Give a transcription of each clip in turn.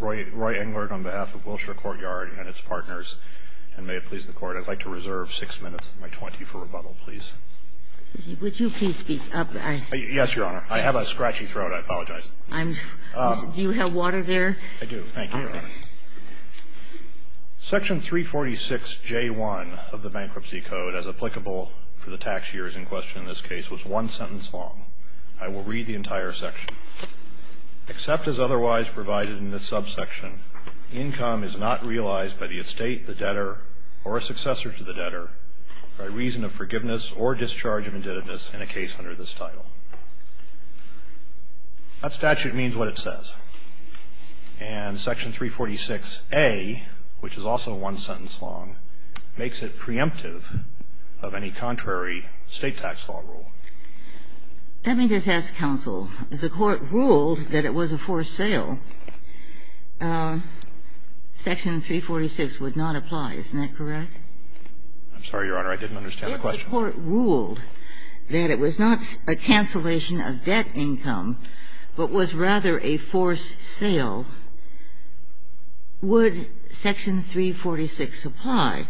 Roy Englert on behalf of Wilshire Courtyard and its partners, and may it please the Court, I'd like to reserve six minutes of my 20 for rebuttal, please. Would you please speak up? Yes, Your Honor. I have a scratchy throat. I apologize. Do you have water there? I do. Thank you, Your Honor. Section 346J1 of the Bankruptcy Code, as applicable for the tax years in question in this case, was one sentence long. I will read the entire section. Except as otherwise provided in this subsection, income is not realized by the estate, the debtor, or a successor to the debtor, by reason of forgiveness or discharge of indebtedness in a case under this title. That statute means what it says. And Section 346A, which is also one sentence long, makes it preemptive of any contrary state tax law rule. Let me just ask, counsel, if the Court ruled that it was a forced sale, Section 346 would not apply. Isn't that correct? I'm sorry, Your Honor. I didn't understand the question. If the Court ruled that it was not a cancellation of debt income but was rather a forced sale, would Section 346 apply?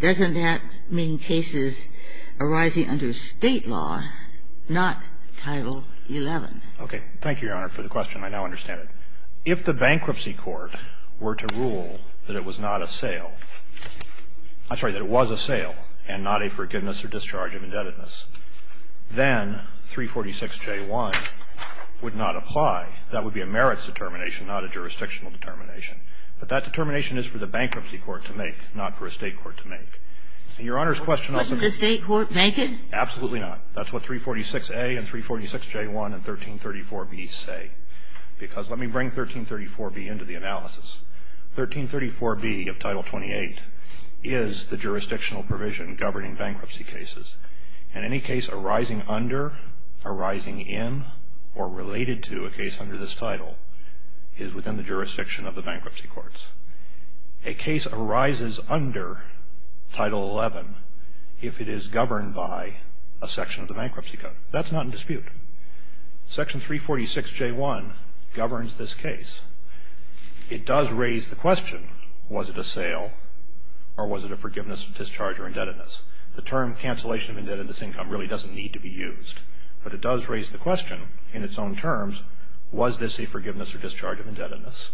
Doesn't that mean cases arising under State law, not Title XI? Thank you, Your Honor, for the question. I now understand it. If the Bankruptcy Court were to rule that it was not a sale, I'm sorry, that it was a sale and not a forgiveness or discharge of indebtedness, then 346J1 would not apply. That would be a merits determination, not a jurisdictional determination. But that determination is for the Bankruptcy Court to make, not for a State court to make. And Your Honor's question also goes to the State court. Couldn't the State court make it? Absolutely not. That's what 346A and 346J1 and 1334B say. Because let me bring 1334B into the analysis. 1334B of Title 28 is the jurisdictional provision governing bankruptcy cases. And any case arising under, arising in, or related to a case under this title is within the jurisdiction of the Bankruptcy Courts. A case arises under Title 11 if it is governed by a section of the Bankruptcy Code. That's not in dispute. Section 346J1 governs this case. It does raise the question, was it a sale or was it a forgiveness of discharge or indebtedness? The term cancellation of indebtedness income really doesn't need to be used. But it does raise the question in its own terms, was this a forgiveness or discharge of indebtedness?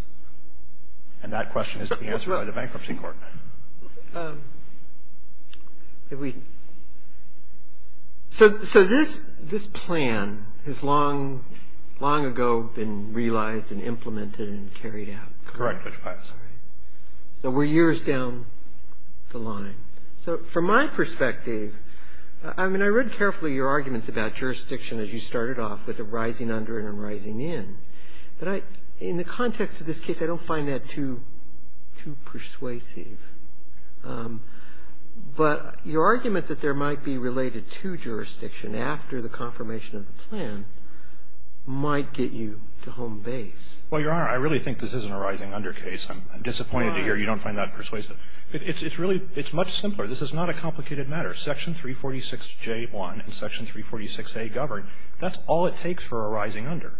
And that question is to be answered by the Bankruptcy Court. So this plan has long ago been realized and implemented and carried out, correct? Correct, Judge Pius. All right. So we're years down the line. So from my perspective, I mean, I read carefully your arguments about jurisdiction as you started off with the rising under and a rising in. But in the context of this case, I don't find that too persuasive. But your argument that there might be related to jurisdiction after the confirmation of the plan might get you to home base. Well, Your Honor, I really think this isn't a rising under case. I'm disappointed to hear you don't find that persuasive. It's much simpler. This is not a complicated matter. Section 346J1 and Section 346A govern. That's all it takes for a rising under.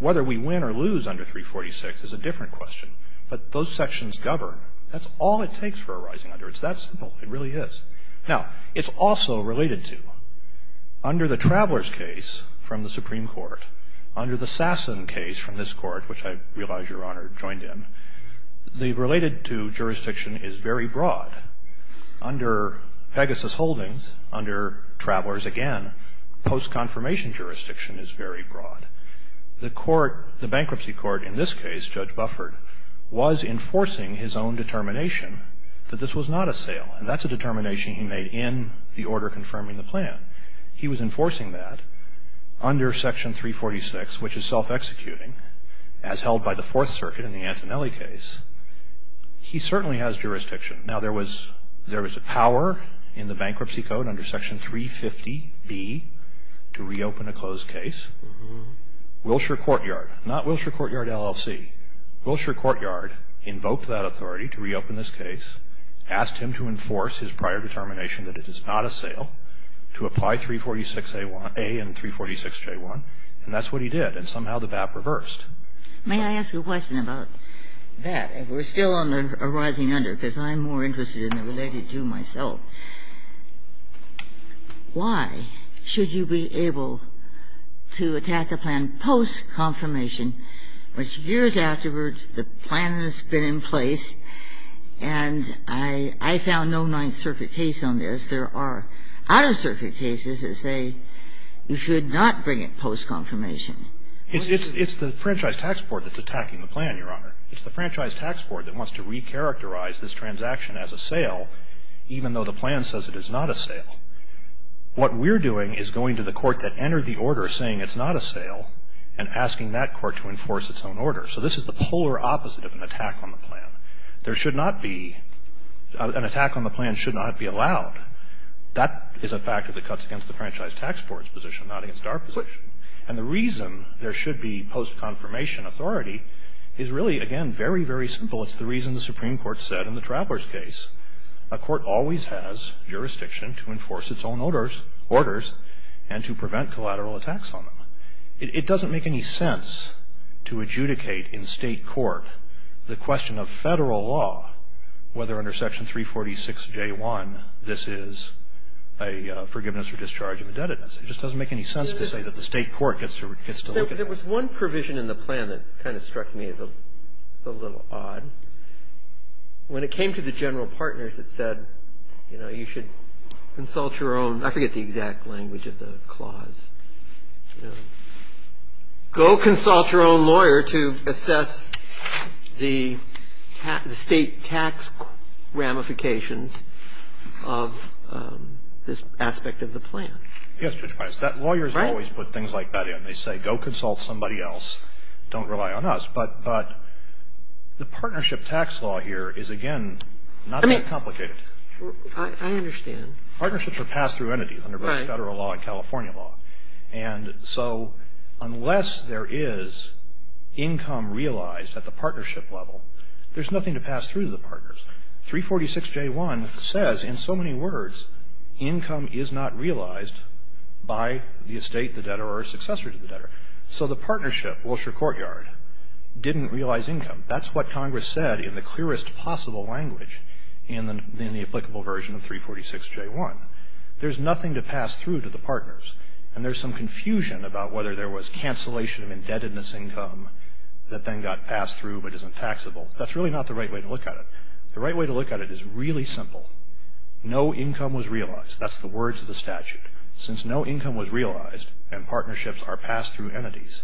Whether we win or lose under 346 is a different question. But those sections govern. That's all it takes for a rising under. It's that simple. It really is. Now, it's also related to, under the Travelers case from the Supreme Court, under the Sasson case from this court, which I realize Your Honor joined in, the related to jurisdiction is very broad. Under Pegasus Holdings, under Travelers, again, post-confirmation jurisdiction is very broad. The bankruptcy court in this case, Judge Bufford, was enforcing his own determination that this was not a sale. And that's a determination he made in the order confirming the plan. He was enforcing that under Section 346, which is self-executing, as held by the Fourth Circuit in the Antonelli case. He certainly has jurisdiction. Now, there was a power in the bankruptcy code under Section 350B to reopen a closed case. Wilshire Courtyard, not Wilshire Courtyard LLC, Wilshire Courtyard invoked that authority to reopen this case, asked him to enforce his prior determination that it is not a sale, to apply 346A and 346J1. And that's what he did. And somehow the BAP reversed. May I ask a question about that? We're still on a rising under, because I'm more interested in the related to myself. Why should you be able to attack a plan post-confirmation, which years afterwards the plan has been in place, and I found no Ninth Circuit case on this. There are out-of-circuit cases that say you should not bring it post-confirmation. It's the Franchise Tax Board that's attacking the plan, Your Honor. It's the Franchise Tax Board that wants to recharacterize this transaction as a sale, even though the plan says it is not a sale. What we're doing is going to the court that entered the order saying it's not a sale and asking that court to enforce its own order. So this is the polar opposite of an attack on the plan. There should not be an attack on the plan should not be allowed. That is a factor that cuts against the Franchise Tax Board's position, not against our position. And the reason there should be post-confirmation authority is really, again, very, very simple. It's the reason the Supreme Court said in the Trappler's case a court always has jurisdiction to enforce its own orders and to prevent collateral attacks on them. It doesn't make any sense to adjudicate in State court the question of Federal law, whether under Section 346J1 this is a forgiveness for discharge of indebtedness. It just doesn't make any sense to say that the State court gets to look at that. There was one provision in the plan that kind of struck me as a little odd. When it came to the general partners, it said, you know, you should consult your own I forget the exact language of the clause. You know, go consult your own lawyer to assess the State tax ramifications of this aspect of the plan. Yes, Judge Pines. Lawyers always put things like that in. They say go consult somebody else. Don't rely on us. But the partnership tax law here is, again, not that complicated. I understand. Partnerships are passed through entities under both Federal law and California law. And so unless there is income realized at the partnership level, there's nothing to pass through to the partners. 346J1 says in so many words, income is not realized by the estate, the debtor, or a successor to the debtor. So the partnership, Wilshire Courtyard, didn't realize income. That's what Congress said in the clearest possible language in the applicable version of 346J1. There's nothing to pass through to the partners. And there's some confusion about whether there was cancellation of indebtedness income that then got passed through but isn't taxable. That's really not the right way to look at it. The right way to look at it is really simple. No income was realized. That's the words of the statute. Since no income was realized and partnerships are passed through entities,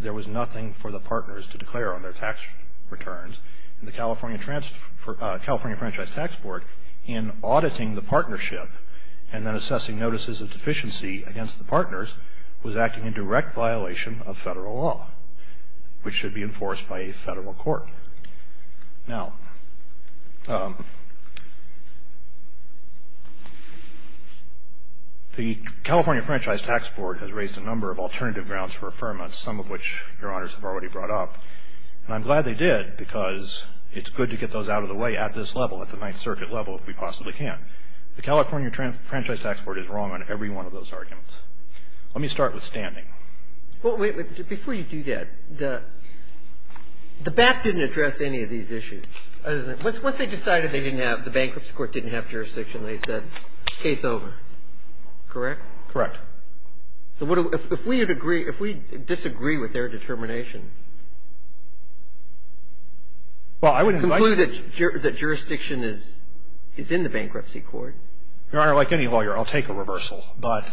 there was nothing for the partners to declare on their tax returns. And the California Franchise Tax Board, in auditing the partnership and then assessing notices of deficiency against the partners, was acting in direct violation of Federal law, which should be enforced by a Federal court. Now, the California Franchise Tax Board has raised a number of alternative grounds for affirmance, some of which Your Honors have already brought up. And I'm glad they did because it's good to get those out of the way at this level, at the Ninth Circuit level, if we possibly can. The California Franchise Tax Board is wrong on every one of those arguments. Let me start with standing. Well, wait. Before you do that, the BAP didn't address any of these issues. Once they decided they didn't have the bankruptcy court didn't have jurisdiction, they said case over. Correct? Correct. So if we disagree with their determination, conclude that jurisdiction is in the bankruptcy court. Your Honor, like any lawyer, I'll take a reversal. But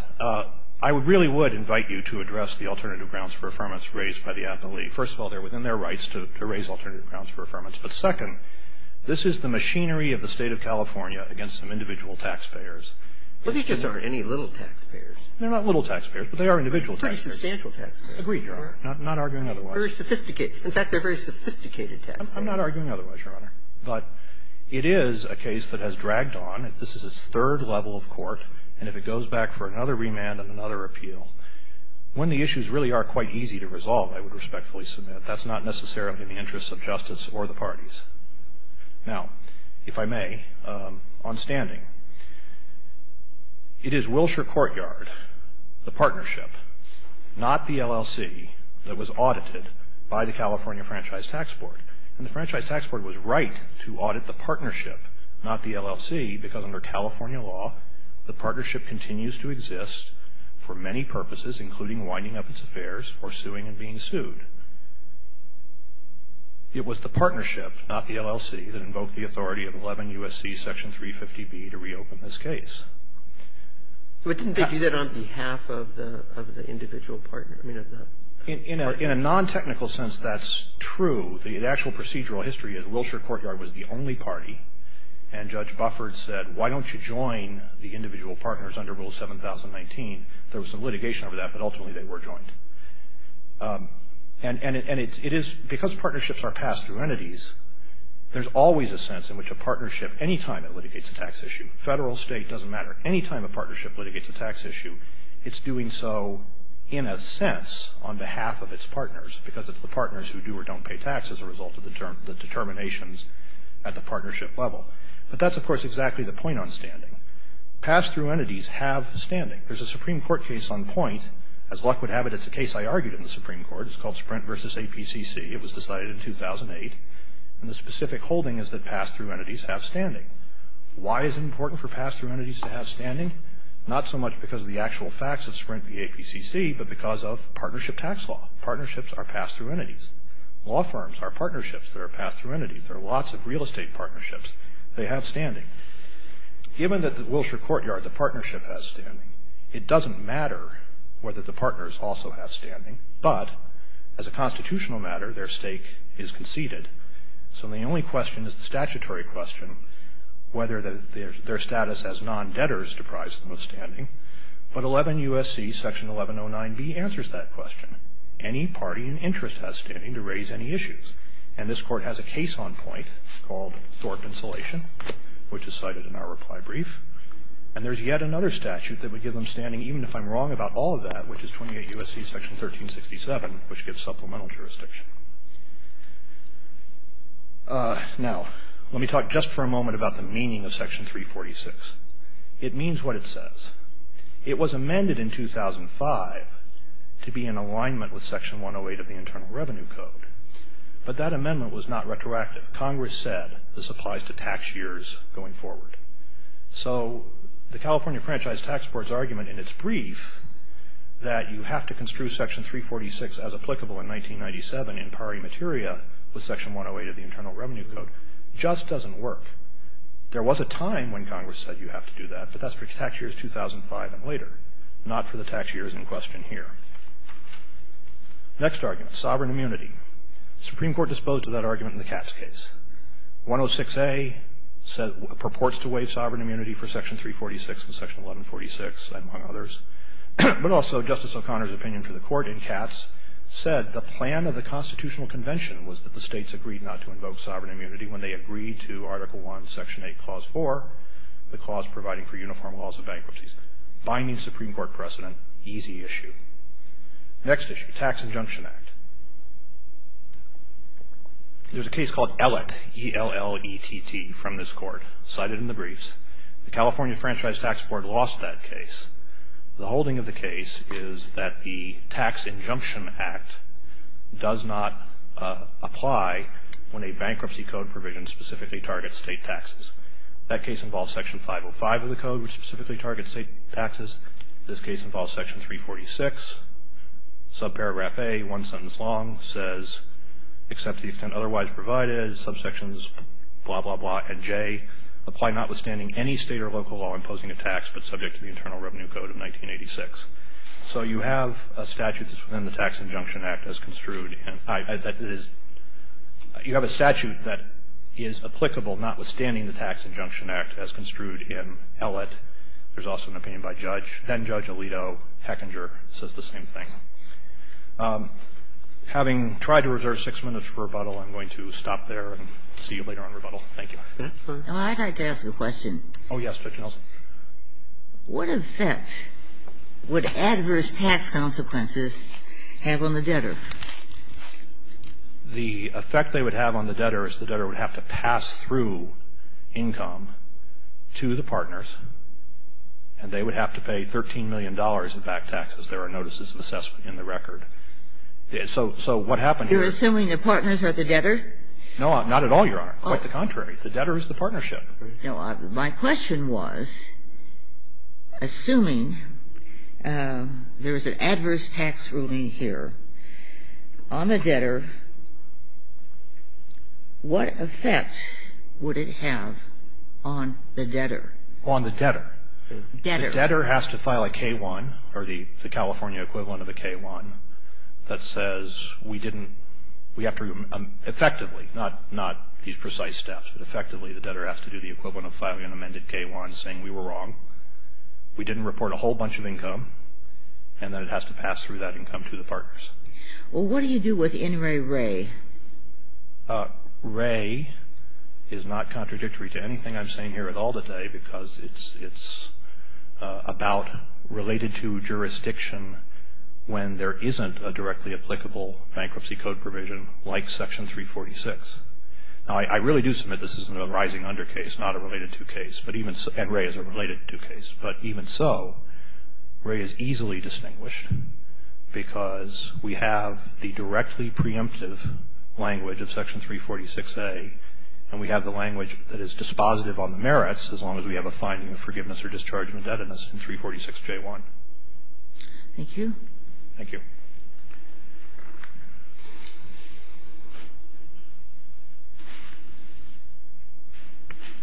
I really would invite you to address the alternative grounds for affirmance raised by the appellee. First of all, they're within their rights to raise alternative grounds for affirmance. But second, this is the machinery of the State of California against some individual taxpayers. Well, these just aren't any little taxpayers. They're not little taxpayers, but they are individual taxpayers. Pretty substantial taxpayers. Agreed, Your Honor. Not arguing otherwise. Very sophisticated. In fact, they're very sophisticated taxpayers. I'm not arguing otherwise, Your Honor. But it is a case that has dragged on. This is its third level of court. And if it goes back for another remand and another appeal, when the issues really are quite easy to resolve, I would respectfully submit, that's not necessarily in the interests of justice or the parties. Now, if I may, on standing. It is Wilshire Courtyard, the partnership, not the LLC, that was audited by the California Franchise Tax Board. And the Franchise Tax Board was right to audit the partnership, not the LLC, because under California law, the partnership continues to exist for many purposes, including winding up its affairs or suing and being sued. It was the partnership, not the LLC, that invoked the authority of 11 U.S.C. Section 350B to reopen this case. But didn't they do that on behalf of the individual partner? In a non-technical sense, that's true. The actual procedural history is Wilshire Courtyard was the only party. And Judge Buffard said, why don't you join the individual partners under Rule 7019? There was some litigation over that, but ultimately they were joined. And it is, because partnerships are passed through entities, there's always a sense in which a partnership, any time it litigates a tax issue, federal, state, doesn't matter, any time a partnership litigates a tax issue, it's doing so in a sense on behalf of its partners, because it's the partners who do or don't pay tax as a result of the determinations at the partnership level. But that's, of course, exactly the point on standing. Pass-through entities have standing. There's a Supreme Court case on point. As luck would have it, it's a case I argued in the Supreme Court. It's called Sprint v. APCC. It was decided in 2008. And the specific holding is that pass-through entities have standing. Why is it important for pass-through entities to have standing? Not so much because of the actual facts of Sprint v. APCC, but because of partnership tax law. Partnerships are pass-through entities. Law firms are partnerships that are pass-through entities. There are lots of real estate partnerships. They have standing. Given that the Wilshire Courtyard, the partnership, has standing, it doesn't matter whether the partners also have standing, but as a constitutional matter, their stake is conceded. So the only question is the statutory question, whether their status as non-debtors deprives them of standing. But 11 U.S.C. Section 1109B answers that question. Any party in interest has standing to raise any issues. And this Court has a case on point called Thornton Salation, which is cited in our reply brief. And there's yet another statute that would give them standing, even if I'm wrong about all of that, which is 28 U.S.C. Section 1367, which gives supplemental jurisdiction. Now let me talk just for a moment about the meaning of Section 346. It means what it says. It was amended in 2005 to be in alignment with Section 108 of the Internal Revenue Code, but that amendment was not retroactive. Congress said this applies to tax years going forward. So the California Franchise Tax Board's argument in its brief that you have to construe Section 346 as applicable in 1997 in pari materia with Section 108 of the Internal Revenue Code just doesn't work. There was a time when Congress said you have to do that, but that's for tax years 2005 and later, not for the tax years in question here. Next argument, sovereign immunity. The Supreme Court disposed of that argument in the Katz case. 106A purports to waive sovereign immunity for Section 346 and Section 1146, among others, but also Justice O'Connor's opinion to the court in Katz said the plan of the Constitutional Convention was that the states agreed not to invoke sovereign immunity when they agreed to Article I, Section 8, Clause 4, the clause providing for uniform laws of bankruptcies. By means of Supreme Court precedent, easy issue. Next issue, Tax Injunction Act. There's a case called ELETT, E-L-L-E-T-T, from this court cited in the briefs. The California Franchise Tax Board lost that case. The holding of the case is that the Tax Injunction Act does not apply when a bankruptcy code provision specifically targets state taxes. That case involves Section 505 of the code, which specifically targets state taxes. This case involves Section 346. Subparagraph A, one sentence long, says, except the extent otherwise provided, subsections blah, blah, blah, and J, apply notwithstanding any state or local law imposing a tax, but subject to the Internal Revenue Code of 1986. So you have a statute that's within the Tax Injunction Act as construed. You have a statute that is applicable notwithstanding the Tax Injunction Act as construed in ELETT. There's also an opinion by Judge, then-Judge Alito, Hechinger, says the same thing. Having tried to reserve six minutes for rebuttal, I'm going to stop there and see you later on rebuttal. Thank you. That's fine. I'd like to ask a question. Oh, yes, Judge Nelson. What effect would adverse tax consequences have on the debtor? The effect they would have on the debtor is the debtor would have to pass through the debtor's income to the partners, and they would have to pay $13 million in back taxes. There are notices of assessment in the record. So what happened here is you're assuming the partners are the debtor? No, not at all, Your Honor. Quite the contrary. The debtor is the partnership. My question was, assuming there is an adverse tax ruling here on the debtor, what effect would it have on the debtor? On the debtor. Debtor. The debtor has to file a K-1, or the California equivalent of a K-1, that says we didn't we have to effectively, not these precise steps, but effectively the debtor has to do the equivalent of filing an amended K-1 saying we were wrong, we didn't report a whole bunch of income, and then it has to pass through that income to the partners. Well, what do you do with N. Ray Ray? Ray is not contradictory to anything I'm saying here at all today because it's about related to jurisdiction when there isn't a directly applicable bankruptcy code provision like Section 346. Now, I really do submit this is a rising under case, not a related to case, and Ray is a related to Section 346A, and we have the language that is dispositive on the merits as long as we have a finding of forgiveness or discharge of indebtedness in 346J1. Thank you. Thank you.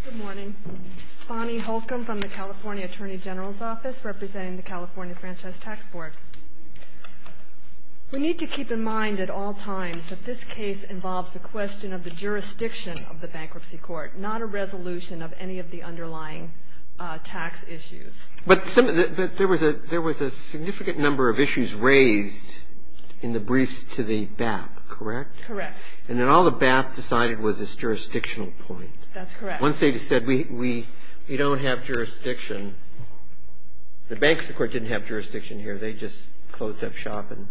Good morning. Bonnie Holcomb from the California Attorney General's Office representing the California Franchise Tax Board. We need to keep in mind at all times that this case involves the question of the jurisdiction of the bankruptcy court, not a resolution of any of the underlying tax issues. But there was a significant number of issues raised in the briefs to the BAP, correct? Correct. And then all the BAP decided was this jurisdictional point. That's correct. Once they said we don't have jurisdiction, the bankruptcy court didn't have jurisdiction here, they just closed up shop and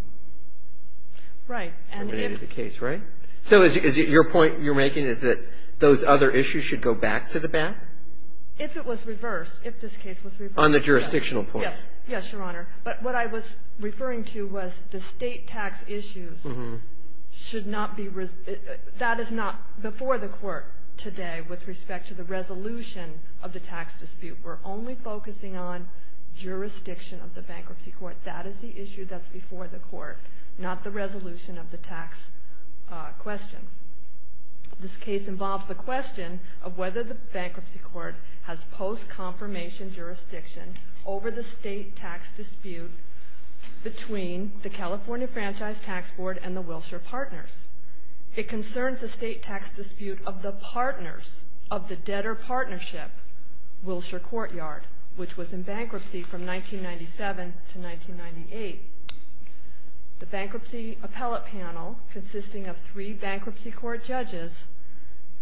terminated the case, right? So is it your point you're making is that those other issues should go back to the BAP? If it was reversed, if this case was reversed. On the jurisdictional point. Yes. Yes, Your Honor. But what I was referring to was the state tax issues should not be, that is not before the court today with respect to the resolution of the tax dispute. We're only focusing on jurisdiction of the bankruptcy court. That is the issue that's before the court, not the resolution of the tax question. This case involves the question of whether the bankruptcy court has post-confirmation jurisdiction over the state tax dispute between the California Franchise Tax Board and the Wilshire Partners. It concerns the state tax dispute of the partners of the debtor partnership, Wilshire Courtyard, which was in bankruptcy from 1997 to 1998. The bankruptcy appellate panel consisting of three bankruptcy court judges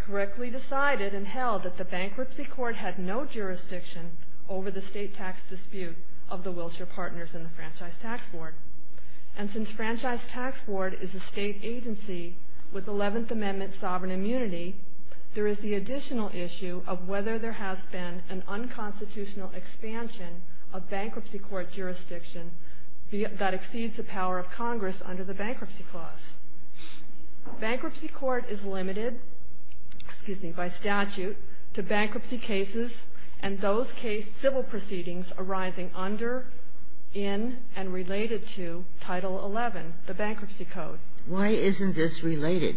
correctly decided and held that the bankruptcy court had no jurisdiction over the state tax dispute of the Wilshire Partners and the Franchise Tax Board. And since Franchise Tax Board is a state agency with 11th Amendment sovereign immunity, there is the additional issue of whether there has been an unconstitutional expansion of bankruptcy court jurisdiction that exceeds the power of Congress under the bankruptcy clause. Bankruptcy court is limited, excuse me, by statute to bankruptcy cases and those case civil proceedings arising under, in, and related to Title 11, the bankruptcy code. Why isn't this related?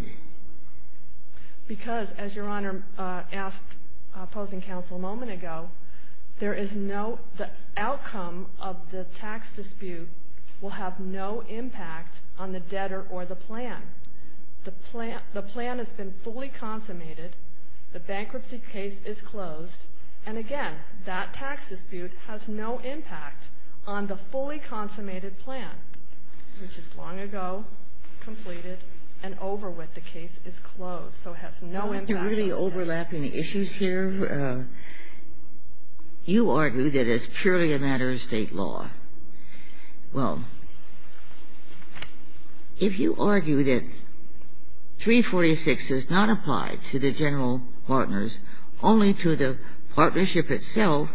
Because, as Your Honor asked opposing counsel a moment ago, the outcome of the tax dispute will have no impact on the debtor or the plan. The plan has been fully consummated. The bankruptcy case is closed. And again, that tax dispute has no impact on the fully consummated plan, which is long ago, completed, and over with. The case is closed. So it has no impact on that. If you really overlap any issues here, you argue that it's purely a matter of state law. Well, if you argue that 346 does not apply to the general partners, only to the partnership itself,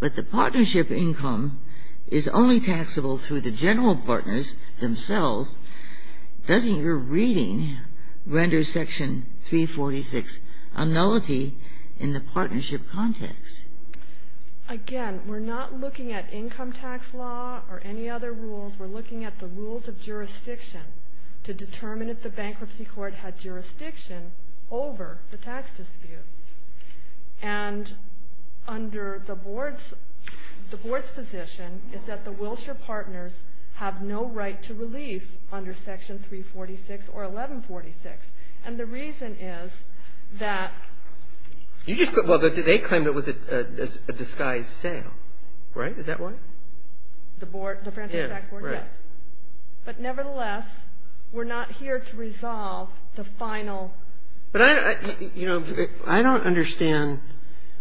but the partnership income is only taxable through the general partners themselves, doesn't your reading render Section 346 a nullity in the partnership context? Again, we're not looking at income tax law or any other rules. We're looking at the rules of jurisdiction to determine if the bankruptcy court had jurisdiction over the tax dispute. And under the Board's position is that the Wilshire partners have no right to relief under Section 346 or 1146. And the reason is that you just put, well, they claim it was a disguised sale. Right? Is that right? The Board, the Franchise Tax Board, yes. But nevertheless, we're not here to resolve the final. But I don't understand.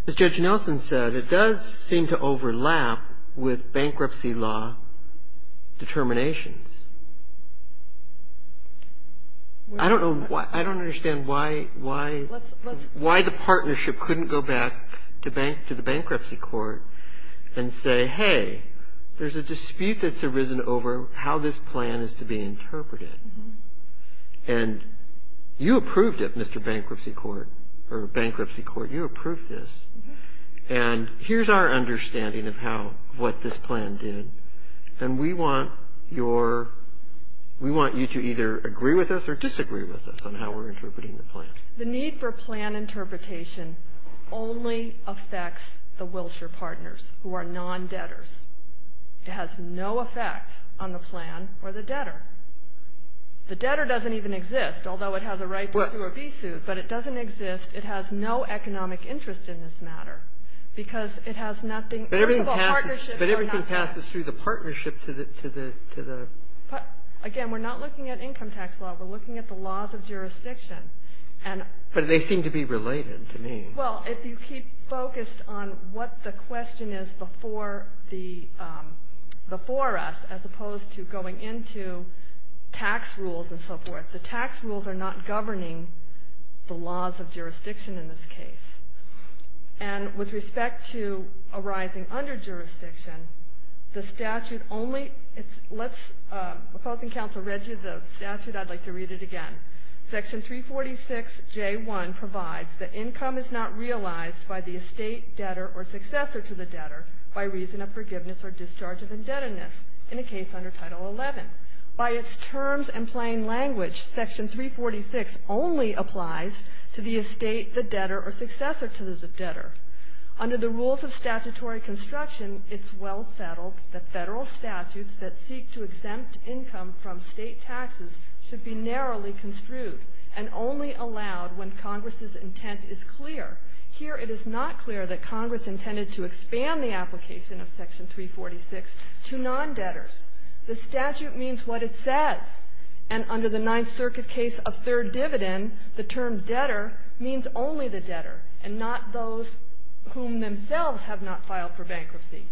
As Judge Nelson said, it does seem to overlap with bankruptcy law determinations. I don't understand why the partnership couldn't go back to the bankruptcy court and say, hey, there's a dispute that's arisen over how this plan is to be interpreted. And you approved it, Mr. Bankruptcy Court, or Bankruptcy Court, you approved this. And here's our understanding of how, what this plan did. And we want your we want you to either agree with us or disagree with us on how we're interpreting the plan. The need for plan interpretation only affects the Wilshire partners who are non-debtors. It has no effect on the plan or the debtor. The debtor doesn't even exist, although it has a right to a V-suit. But it doesn't exist. It has no economic interest in this matter because it has nothing. But everything passes through the partnership to the. Again, we're not looking at income tax law. We're looking at the laws of jurisdiction. But they seem to be related to me. Well, if you keep focused on what the question is before us, as opposed to going into tax rules and so forth, the tax rules are not governing the laws of jurisdiction in this case. And with respect to arising under jurisdiction, the statute only, let's, opposing counsel Reggie, the statute, I'd like to read it again. Section 346J1 provides that income is not realized by the estate, debtor, or successor to the debtor by reason of forgiveness or discharge of indebtedness in a case under Title 11. By its terms and plain language, Section 346 only applies to the estate, the debtor, or successor to the debtor. Under the rules of statutory construction, it's well settled that federal statutes that seek to exempt income from state taxes should be narrowly construed and only allowed when Congress's intent is clear. Here it is not clear that Congress intended to expand the application of Section 346 to non-debtors. The statute means what it says. And under the Ninth Circuit case of third dividend, the term debtor means only the debtor and not those whom themselves have not filed for bankruptcy.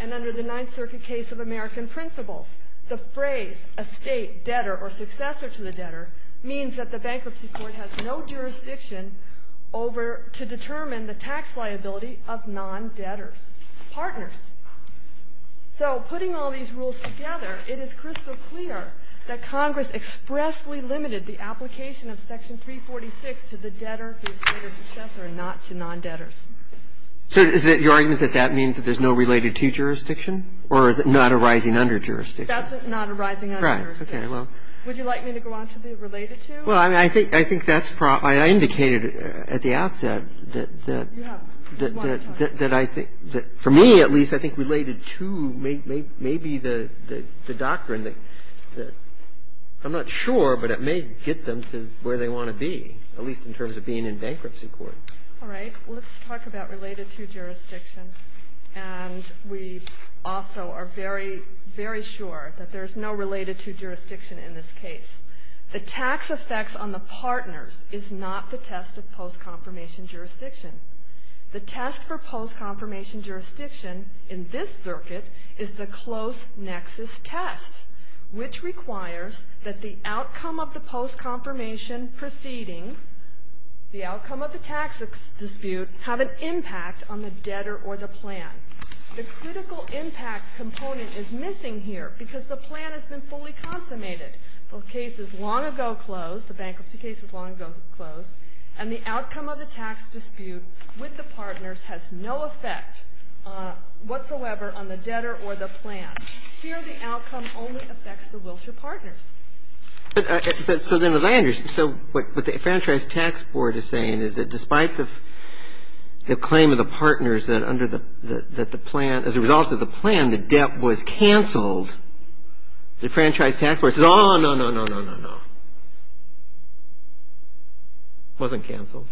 And under the Ninth Circuit case of American principles, the phrase estate, debtor, or successor to the debtor means that the bankruptcy court has no jurisdiction over So putting all these rules together, it is crystal clear that Congress expressly limited the application of Section 346 to the debtor, the estate, or successor and not to non-debtors. So is it your argument that that means that there's no related to jurisdiction or not arising under jurisdiction? That's not arising under jurisdiction. Would you like me to go on to the related to? Well, I mean, I think that's probably indicated at the outset that I think that for me, at least, I think related to may be the doctrine that I'm not sure, but it may get them to where they want to be, at least in terms of being in bankruptcy court. All right. Well, let's talk about related to jurisdiction. And we also are very, very sure that there's no related to jurisdiction in this case. The tax effects on the partners is not the test of post-confirmation jurisdiction. The test for post-confirmation jurisdiction in this circuit is the close nexus test, which requires that the outcome of the post-confirmation proceeding, the outcome of the tax dispute, have an impact on the debtor or the plan. The critical impact component is missing here because the plan has been fully consummated. The case is long ago closed. The bankruptcy case is long ago closed. And the outcome of the tax dispute with the partners has no effect whatsoever on the debtor or the plan. Here the outcome only affects the Wilshire partners. So then what I understand, so what the Franchise Tax Board is saying is that despite the claim of the partners that under the plan, as a result of the plan, the debt was canceled, the Franchise Tax Board says, oh, no, no, no, no, no, no. It wasn't canceled.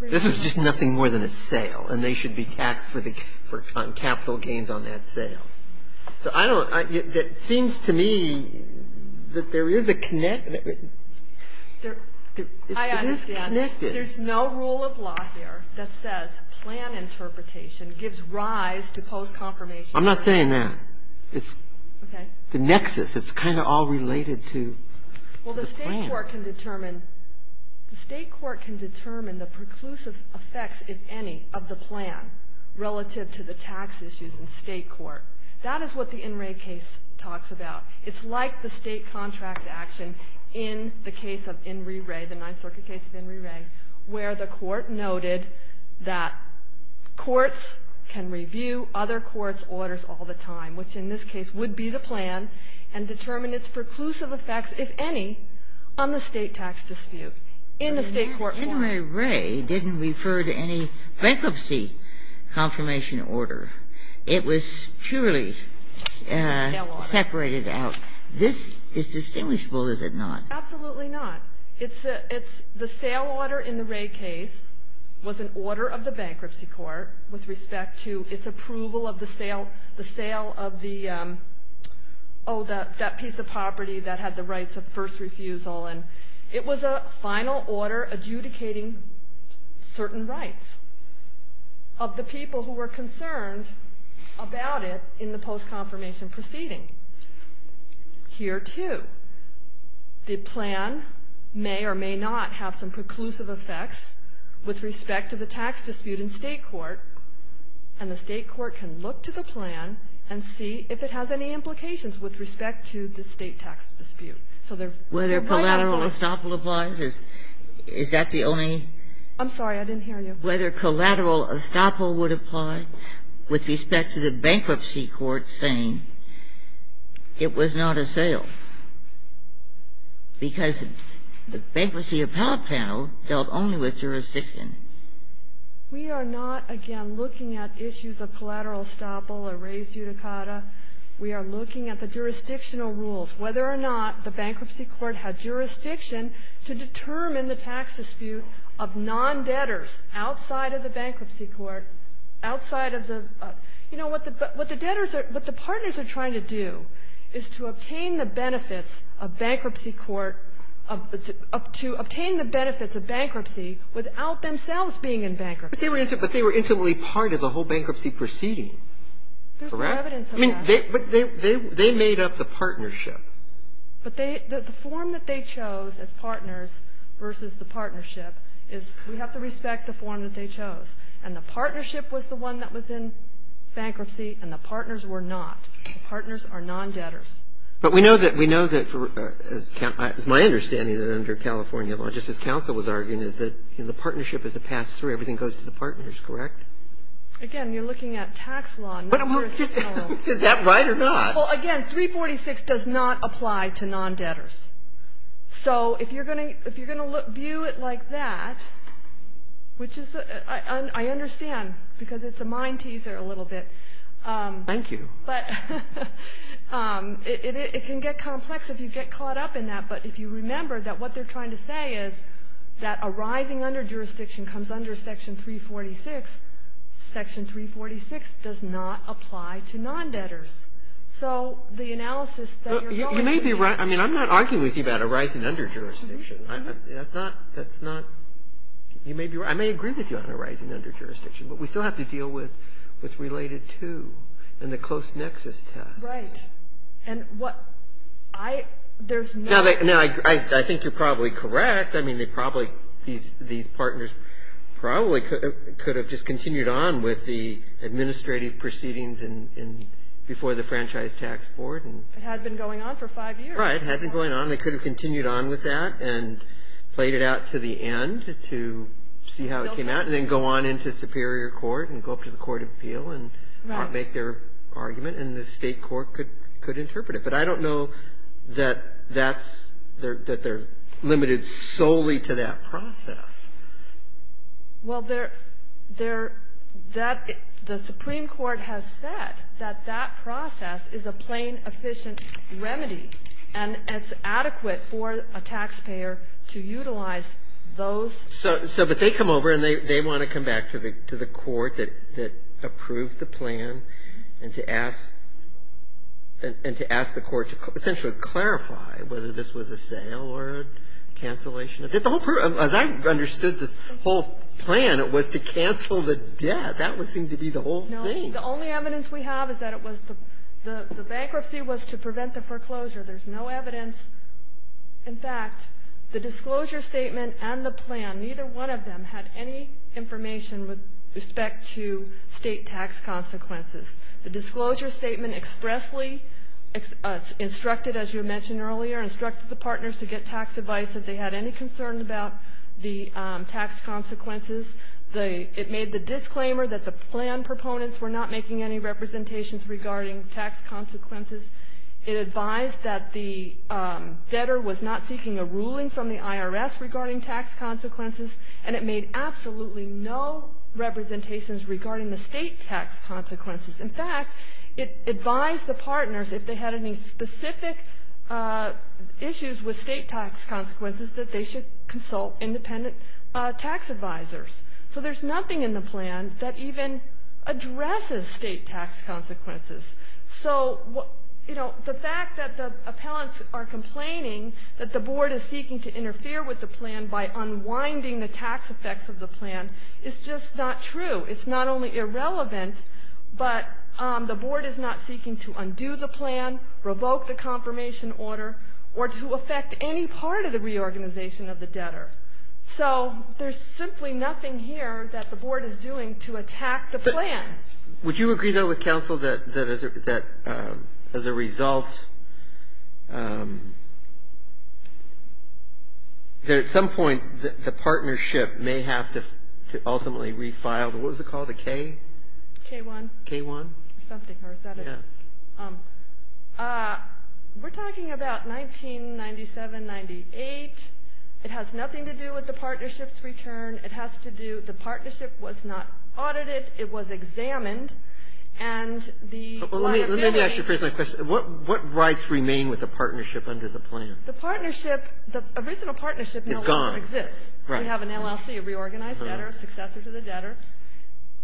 This is just nothing more than a sale, and they should be taxed for capital gains on that sale. So I don't, it seems to me that there is a, it is connected. There's no rule of law here that says plan interpretation gives rise to post-confirmation. I'm not saying that. It's the nexus. It's kind of all related to the plan. Well, the state court can determine, the state court can determine the preclusive effects, if any, of the plan relative to the tax issues in state court. That is what the In Re case talks about. It's like the state contract action in the case of In Re Re, the Ninth Circuit case of In Re Re, where the court noted that courts can review other courts' orders all the time, which in this case would be the plan, and determine its preclusive effects, if any, on the state tax dispute in the state court form. But In Re Re didn't refer to any bankruptcy confirmation order. It was purely separated out. This is distinguishable, is it not? Absolutely not. The sale order in the Re case was an order of the bankruptcy court with respect to its approval of the sale of that piece of property that had the rights of first refusal. It was a final order adjudicating certain rights of the people who were concerned about it in the post-confirmation proceeding. Here, too, the plan may or may not have some preclusive effects with respect to the tax dispute in state court, and the state court can look to the plan and see if it has any implications with respect to the state tax dispute. So there might not apply. Whether collateral estoppel applies, is that the only? I'm sorry, I didn't hear you. Whether collateral estoppel would apply with respect to the bankruptcy court saying it was not a sale, because the Bankruptcy Appellate Panel dealt only with jurisdiction. We are not, again, looking at issues of collateral estoppel or res judicata. We are looking at the jurisdictional rules, whether or not the bankruptcy court had jurisdiction to determine the tax dispute of non-debtors outside of the bankruptcy court, outside of the you know, what the debtors are, what the partners are trying to do is to obtain the benefits of bankruptcy court of, to obtain the benefits of bankruptcy without themselves being in bankruptcy. But they were intimately part of the whole bankruptcy proceeding, correct? There's evidence of that. They made up the partnership. But they, the form that they chose as partners versus the partnership is we have to respect the form that they chose. And the partnership was the one that was in bankruptcy, and the partners were not. The partners are non-debtors. But we know that, we know that, as my understanding, that under California Law, just as counsel was arguing, is that the partnership is a pass-through. Everything goes to the partners, correct? Again, you're looking at tax law, not jurisdictional law. Is that right or not? Well, again, 346 does not apply to non-debtors. So if you're going to view it like that, which is, I understand, because it's a mind teaser a little bit. Thank you. But it can get complex if you get caught up in that. But if you remember that what they're trying to say is that a rising under jurisdiction comes under Section 346, Section 346 does not apply to non-debtors. So the analysis that you're going to be making. You may be right. I mean, I'm not arguing with you about a rising under jurisdiction. That's not, that's not, you may be right. I may agree with you on a rising under jurisdiction. But we still have to deal with what's related to and the close nexus test. Right. And what I, there's no. Now, I think you're probably correct. I mean, they probably, these partners probably could have just continued on with the franchise tax board. It had been going on for five years. Right. It had been going on. They could have continued on with that and played it out to the end to see how it came out and then go on into superior court and go up to the court of appeal and make their argument. And the state court could interpret it. But I don't know that that's, that they're limited solely to that process. Well, there, that, the Supreme Court has said that that process is a plain efficient remedy. And it's adequate for a taxpayer to utilize those. So, but they come over and they want to come back to the court that approved the plan and to ask, and to ask the court to essentially clarify whether this was a sale or a cancellation. As I understood this whole plan, it was to cancel the debt. That would seem to be the whole thing. No, the only evidence we have is that it was, the bankruptcy was to prevent the foreclosure. There's no evidence. In fact, the disclosure statement and the plan, neither one of them had any information with respect to state tax consequences. The disclosure statement expressly instructed, as you mentioned earlier, instructed the partners to get tax advice if they had any concern about the tax consequences. It made the disclaimer that the plan proponents were not making any representations regarding tax consequences. It advised that the debtor was not seeking a ruling from the IRS regarding tax consequences. And it made absolutely no representations regarding the state tax consequences. In fact, it advised the partners if they had any specific issues with state tax consequences that they should consult independent tax advisors. So there's nothing in the plan that even addresses state tax consequences. So, you know, the fact that the appellants are complaining that the board is seeking to interfere with the plan by unwinding the tax effects of the plan is just not true. It's not only irrelevant, but the board is not seeking to undo the plan, revoke the confirmation order, or to affect any part of the reorganization of the debtor. So there's simply nothing here that the board is doing to attack the plan. Would you agree, though, with counsel that as a result, that at some point the partnership may have to ultimately refile? What was it called, a K? K-1. K-1? Or something, or is that it? Yes. We're talking about 1997-98. It has nothing to do with the partnership's return. It has to do with the partnership was not audited. It was examined. And the liability. Let me ask you a personal question. What rights remain with the partnership under the plan? The partnership, the original partnership no longer exists. It's gone. Right. We have an LLC, a reorganized debtor, a successor to the debtor.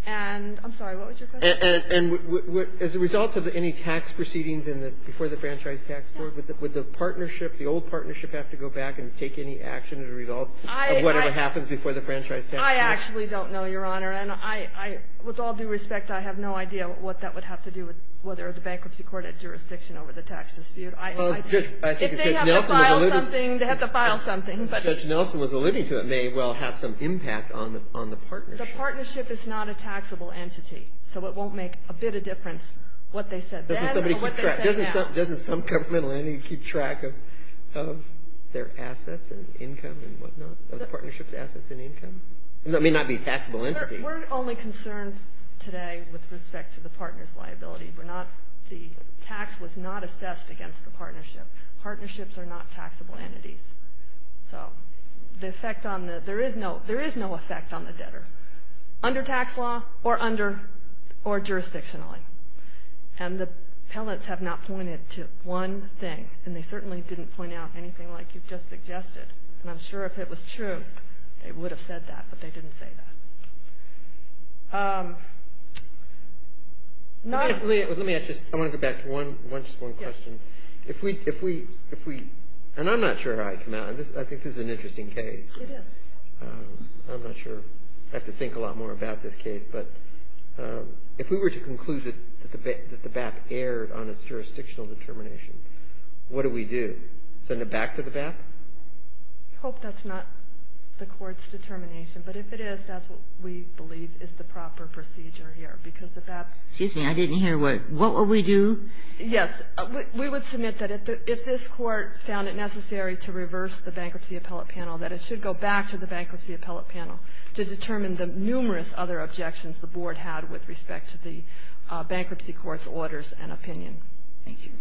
And I'm sorry, what was your question? And as a result of any tax proceedings before the Franchise Tax Board, would the partnership, the old partnership have to go back and take any action as a result of whatever happens before the Franchise Tax Board? I actually don't know, Your Honor. With all due respect, I have no idea what that would have to do with whether the bankruptcy court had jurisdiction over the tax dispute. If they have to file something, they have to file something. Judge Nelson was alluding to it may well have some impact on the partnership. The partnership is not a taxable entity, so it won't make a bit of difference what they said then or what they say now. Doesn't some governmental entity keep track of their assets and income and whatnot, of the partnership's assets and income? It may not be a taxable entity. We're only concerned today with respect to the partner's liability. The tax was not assessed against the partnership. Partnerships are not taxable entities. So there is no effect on the debtor under tax law or jurisdictionally. And the appellants have not pointed to one thing, and they certainly didn't point out anything like you just suggested. And I'm sure if it was true, they would have said that, but they didn't say that. Let me ask just one question. If we – and I'm not sure how I came out. I think this is an interesting case. It is. I'm not sure. I have to think a lot more about this case. But if we were to conclude that the BAP erred on its jurisdictional determination, what do we do? Send it back to the BAP? I hope that's not the Court's determination. But if it is, that's what we believe is the proper procedure here, because the BAP — Excuse me. I didn't hear what. What would we do? Yes. We would submit that if this Court found it necessary to reverse the Bankruptcy Appellate Panel, that it should go back to the Bankruptcy Appellate Panel to determine the numerous other objections the Board had with respect to the bankruptcy court's orders and opinion. Thank you.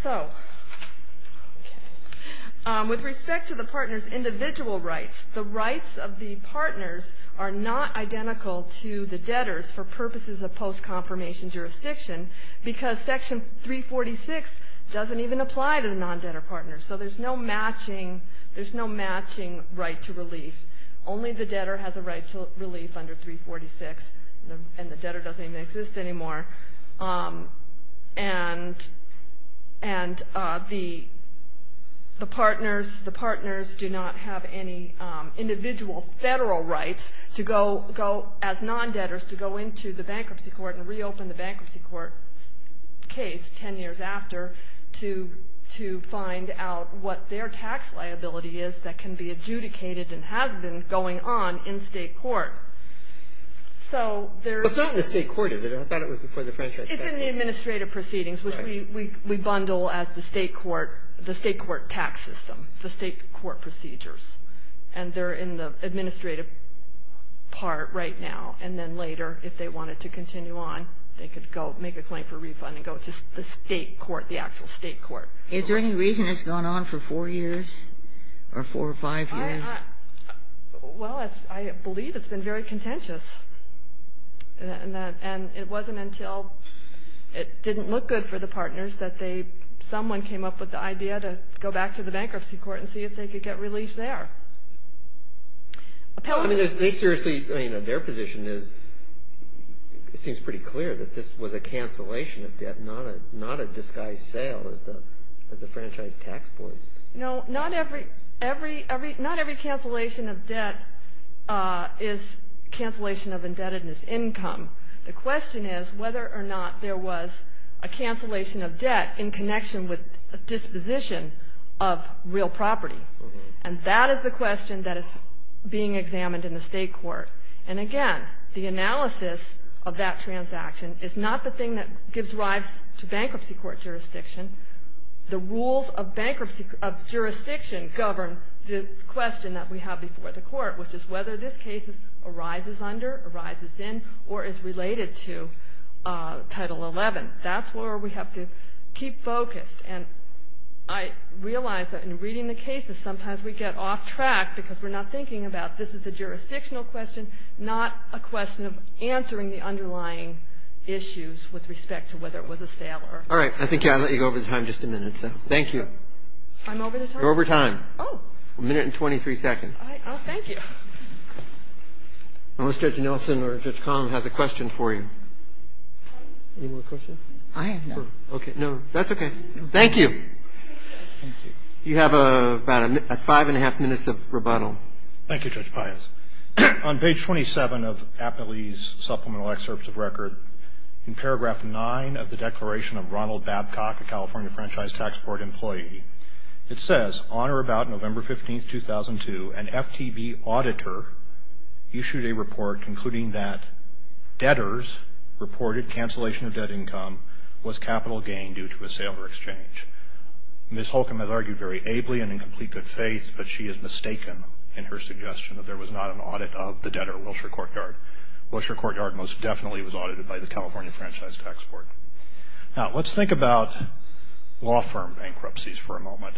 So, with respect to the partners' individual rights, the rights of the partners are not identical to the debtors' for purposes of post-confirmation jurisdiction because Section 346 doesn't even apply to the non-debtor partners. So there's no matching right to relief. Only the debtor has a right to relief under 346, and the debtor doesn't even exist anymore. And the partners do not have any individual federal rights to go, as non-debtors, to go into the bankruptcy court and reopen the bankruptcy court's case 10 years after to find out what their tax liability is that can be adjudicated and has been going on in state court. So there's It's not in the state court, is it? I thought it was before the franchise case. It's in the administrative proceedings, which we bundle as the state court tax system, the state court procedures. And they're in the administrative part right now. And then later, if they wanted to continue on, they could go make a claim for refund and go to the state court, the actual state court. Is there any reason it's gone on for four years or four or five years? Well, I believe it's been very contentious. And it wasn't until it didn't look good for the partners that they someone came up with the idea to go back to the bankruptcy court and see if they could get relief there. I mean, they seriously, I mean, their position is, it seems pretty clear that this was a cancellation of debt, not a disguised sale as the franchise tax board. No, not every cancellation of debt is cancellation of indebtedness income. The question is whether or not there was a cancellation of debt in connection with a disposition of real property. And that is the question that is being examined in the state court. And again, the analysis of that transaction is not the thing that gives rise to bankruptcy court jurisdiction. The rules of bankruptcy of jurisdiction govern the question that we have before the court, which is whether this case arises under, arises in, or is related to Title 11. That's where we have to keep focused. And I realize that in reading the cases, sometimes we get off track because we're not thinking about this is a jurisdictional question, not a question of answering the underlying issues with respect to whether it was a sale or not. All right. I think I'll let you go over the time just a minute, so thank you. I'm over the time? You're over time. Oh. A minute and 23 seconds. Oh, thank you. Unless Judge Nelson or Judge Kahn has a question for you. Any more questions? I have none. Okay. No, that's okay. Thank you. Thank you. You have about five and a half minutes of rebuttal. Thank you, Judge Pius. On page 27 of Appley's Supplemental Excerpts of Record, in paragraph 9 of the Declaration of Ronald Babcock, a California Franchise Tax Board employee, it says, on or about November 15, 2002, an FTB auditor issued a report concluding that debtors reported cancellation of debt income was capital gain due to a sale or exchange. Ms. Holcomb has argued very ably and in complete good faith, but she has mistaken in her suggestion that there was not an audit of the debtor, Wilshire Courtyard. Wilshire Courtyard most definitely was audited by the California Franchise Tax Board. Now, let's think about law firm bankruptcies for a moment.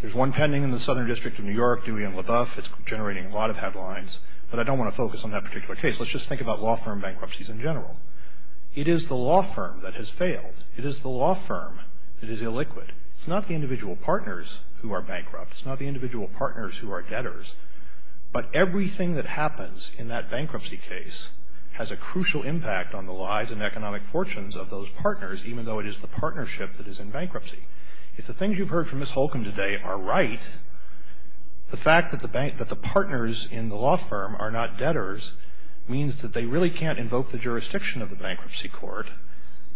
There's one pending in the Southern District of New York, Dewey and LaBeouf. It's generating a lot of headlines, but I don't want to focus on that particular case. Let's just think about law firm bankruptcies in general. It is the law firm that has failed. It is the law firm that is illiquid. It's not the individual partners who are bankrupt. It's not the individual partners who are debtors. But everything that happens in that bankruptcy case has a crucial impact on the lives and economic fortunes of those partners, even though it is the partnership that is in bankruptcy. If the things you've heard from Ms. Holcomb today are right, the fact that the partners in the law firm are not debtors means that they really can't invoke the jurisdiction of the bankruptcy court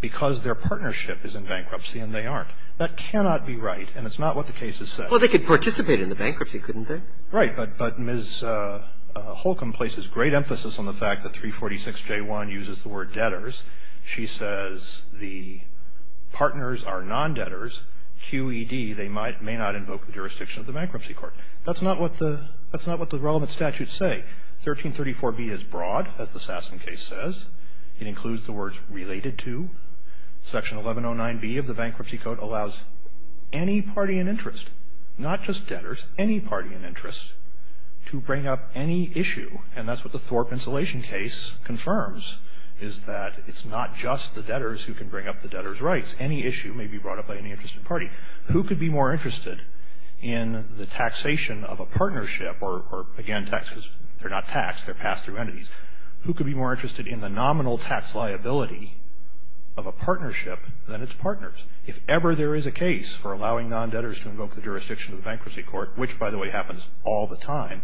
because their partnership is in bankruptcy and they aren't. That cannot be right, and it's not what the case has said. Well, they could participate in the bankruptcy, couldn't they? Right, but Ms. Holcomb places great emphasis on the fact that 346J1 uses the word debtors. She says the partners are non-debtors. QED, they may not invoke the jurisdiction of the bankruptcy court. That's not what the relevant statutes say. 1334B is broad, as the Sasson case says. It includes the words related to. Section 1109B of the bankruptcy code allows any party in interest, not just debtors, any party in interest to bring up any issue, and that's what the Thorpe insulation case confirms, is that it's not just the debtors who can bring up the debtors' rights. Any issue may be brought up by any interested party. Who could be more interested in the taxation of a partnership or, again, taxes? They're not taxed. They're passed through entities. Who could be more interested in the nominal tax liability of a partnership than its partners? If ever there is a case for allowing non-debtors to invoke the jurisdiction of the bankruptcy court, which, by the way, happens all the time,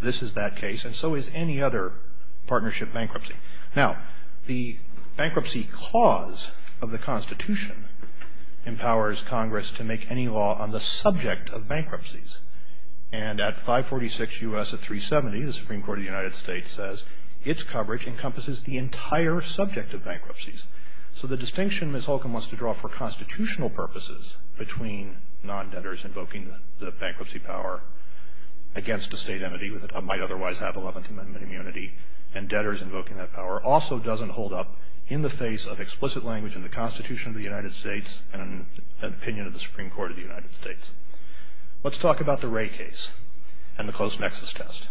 this is that case, and so is any other partnership bankruptcy. Now, the bankruptcy clause of the Constitution empowers Congress to make any law on the subject of bankruptcies. And at 546 U.S. at 370, the Supreme Court of the United States says its coverage encompasses the entire subject of bankruptcies. So the distinction Ms. Holcomb wants to draw for constitutional purposes between non-debtors invoking the bankruptcy power against a state entity that might otherwise have Eleventh Amendment immunity and debtors invoking that power also doesn't hold up in the face of explicit language in the Constitution of the United States and an opinion of the Supreme Court of the United States. Let's talk about the Wray case and the close nexus test.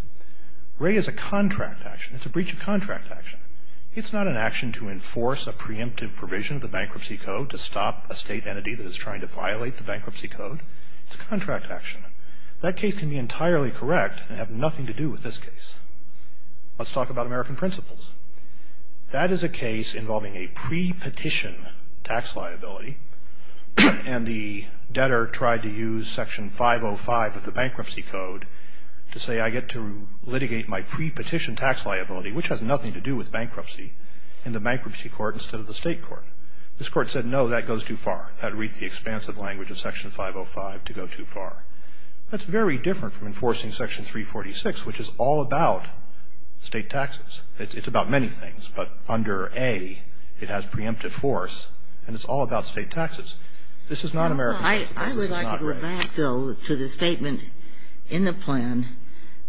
Wray is a contract action. It's a breach of contract action. It's not an action to enforce a preemptive provision of the bankruptcy code to stop a state entity that is trying to violate the bankruptcy code. It's a contract action. That case can be entirely correct and have nothing to do with this case. Let's talk about American principles. That is a case involving a pre-petition tax liability, and the debtor tried to use Section 505 of the bankruptcy code to say, I get to litigate my pre-petition tax liability, which has nothing to do with bankruptcy, in the bankruptcy court instead of the state court. This court said, no, that goes too far. That reads the expansive language of Section 505 to go too far. That's very different from enforcing Section 346, which is all about state taxes. It's about many things, but under A, it has preemptive force, and it's all about state taxes. This is not American principles. I would like to go back, though, to the statement in the plan.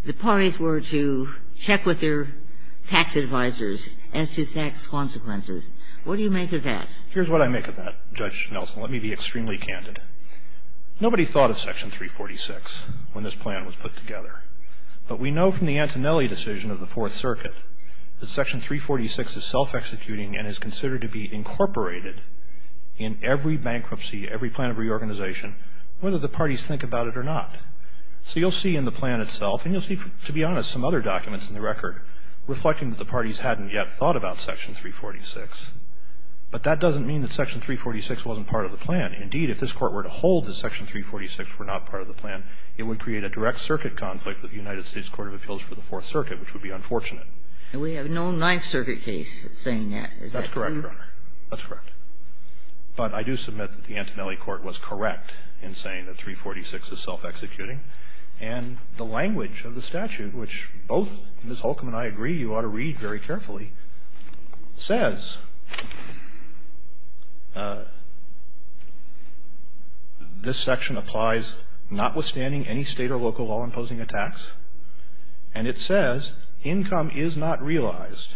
The parties were to check with their tax advisors as to tax consequences. What do you make of that? Here's what I make of that, Judge Nelson. Let me be extremely candid. Nobody thought of Section 346 when this plan was put together, but we know from the Antonelli decision of the Fourth Circuit that Section 346 is self-executing and is considered to be incorporated in every bankruptcy, every plan of reorganization, whether the parties think about it or not. So you'll see in the plan itself, and you'll see, to be honest, some other documents in the record, reflecting that the parties hadn't yet thought about Section 346, but that doesn't mean that Section 346 wasn't part of the plan. Indeed, if this court were to hold that Section 346 were not part of the plan, it would create a direct circuit conflict with the United States Court of Appeals for the Fourth Circuit, which would be unfortunate. And we have no Ninth Circuit case saying that. Is that true? That's correct, Your Honor. That's correct. But I do submit that the Antonelli court was correct in saying that 346 is self-executing. And the language of the statute, which both Ms. Holcomb and I agree you ought to read very carefully, says this section applies notwithstanding any state or local law imposing a tax. And it says income is not realized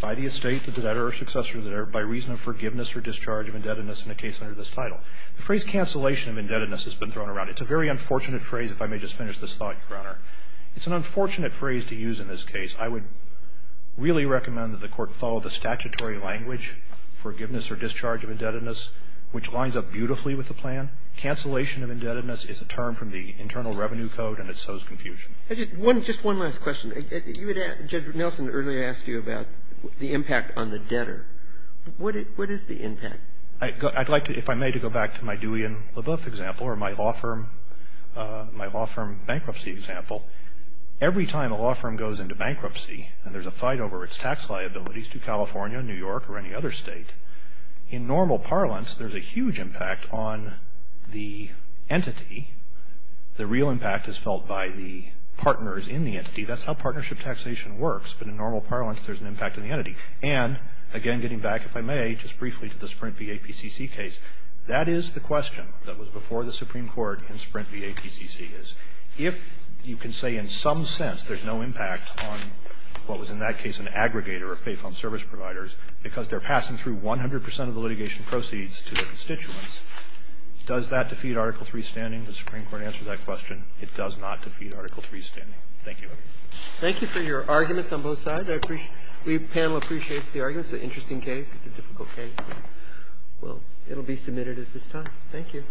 by the estate, the debtor, or successor there by reason of forgiveness or discharge of indebtedness in a case under this title. The phrase cancellation of indebtedness has been thrown around. It's a very unfortunate phrase, if I may just finish this thought, Your Honor. It's an unfortunate phrase to use in this case. I would really recommend that the court follow the statutory language, forgiveness or discharge of indebtedness, which lines up beautifully with the plan. Cancellation of indebtedness is a term from the Internal Revenue Code, and it sows confusion. Just one last question. You had asked, Judge Nelson earlier asked you about the impact on the debtor. What is the impact? I'd like to, if I may, to go back to my Dewey and Leboeuf example or my law firm bankruptcy example. Every time a law firm goes into bankruptcy and there's a fight over its tax liabilities to California, New York, or any other state, in normal parlance, there's a huge impact on the entity. The real impact is felt by the partners in the entity. That's how partnership taxation works. But in normal parlance, there's an impact on the entity. And again, getting back, if I may, just briefly to the Sprint v. APCC case, that is the question that was before the Supreme Court in Sprint v. They say in some sense there's no impact on what was in that case an aggregator of payphone service providers because they're passing through 100 percent of the litigation proceeds to their constituents. Does that defeat Article III's standing? The Supreme Court answered that question. It does not defeat Article III's standing. Thank you. Thank you for your arguments on both sides. The panel appreciates the arguments. It's an interesting case. It's a difficult case. Well, it'll be submitted at this time. Thank you.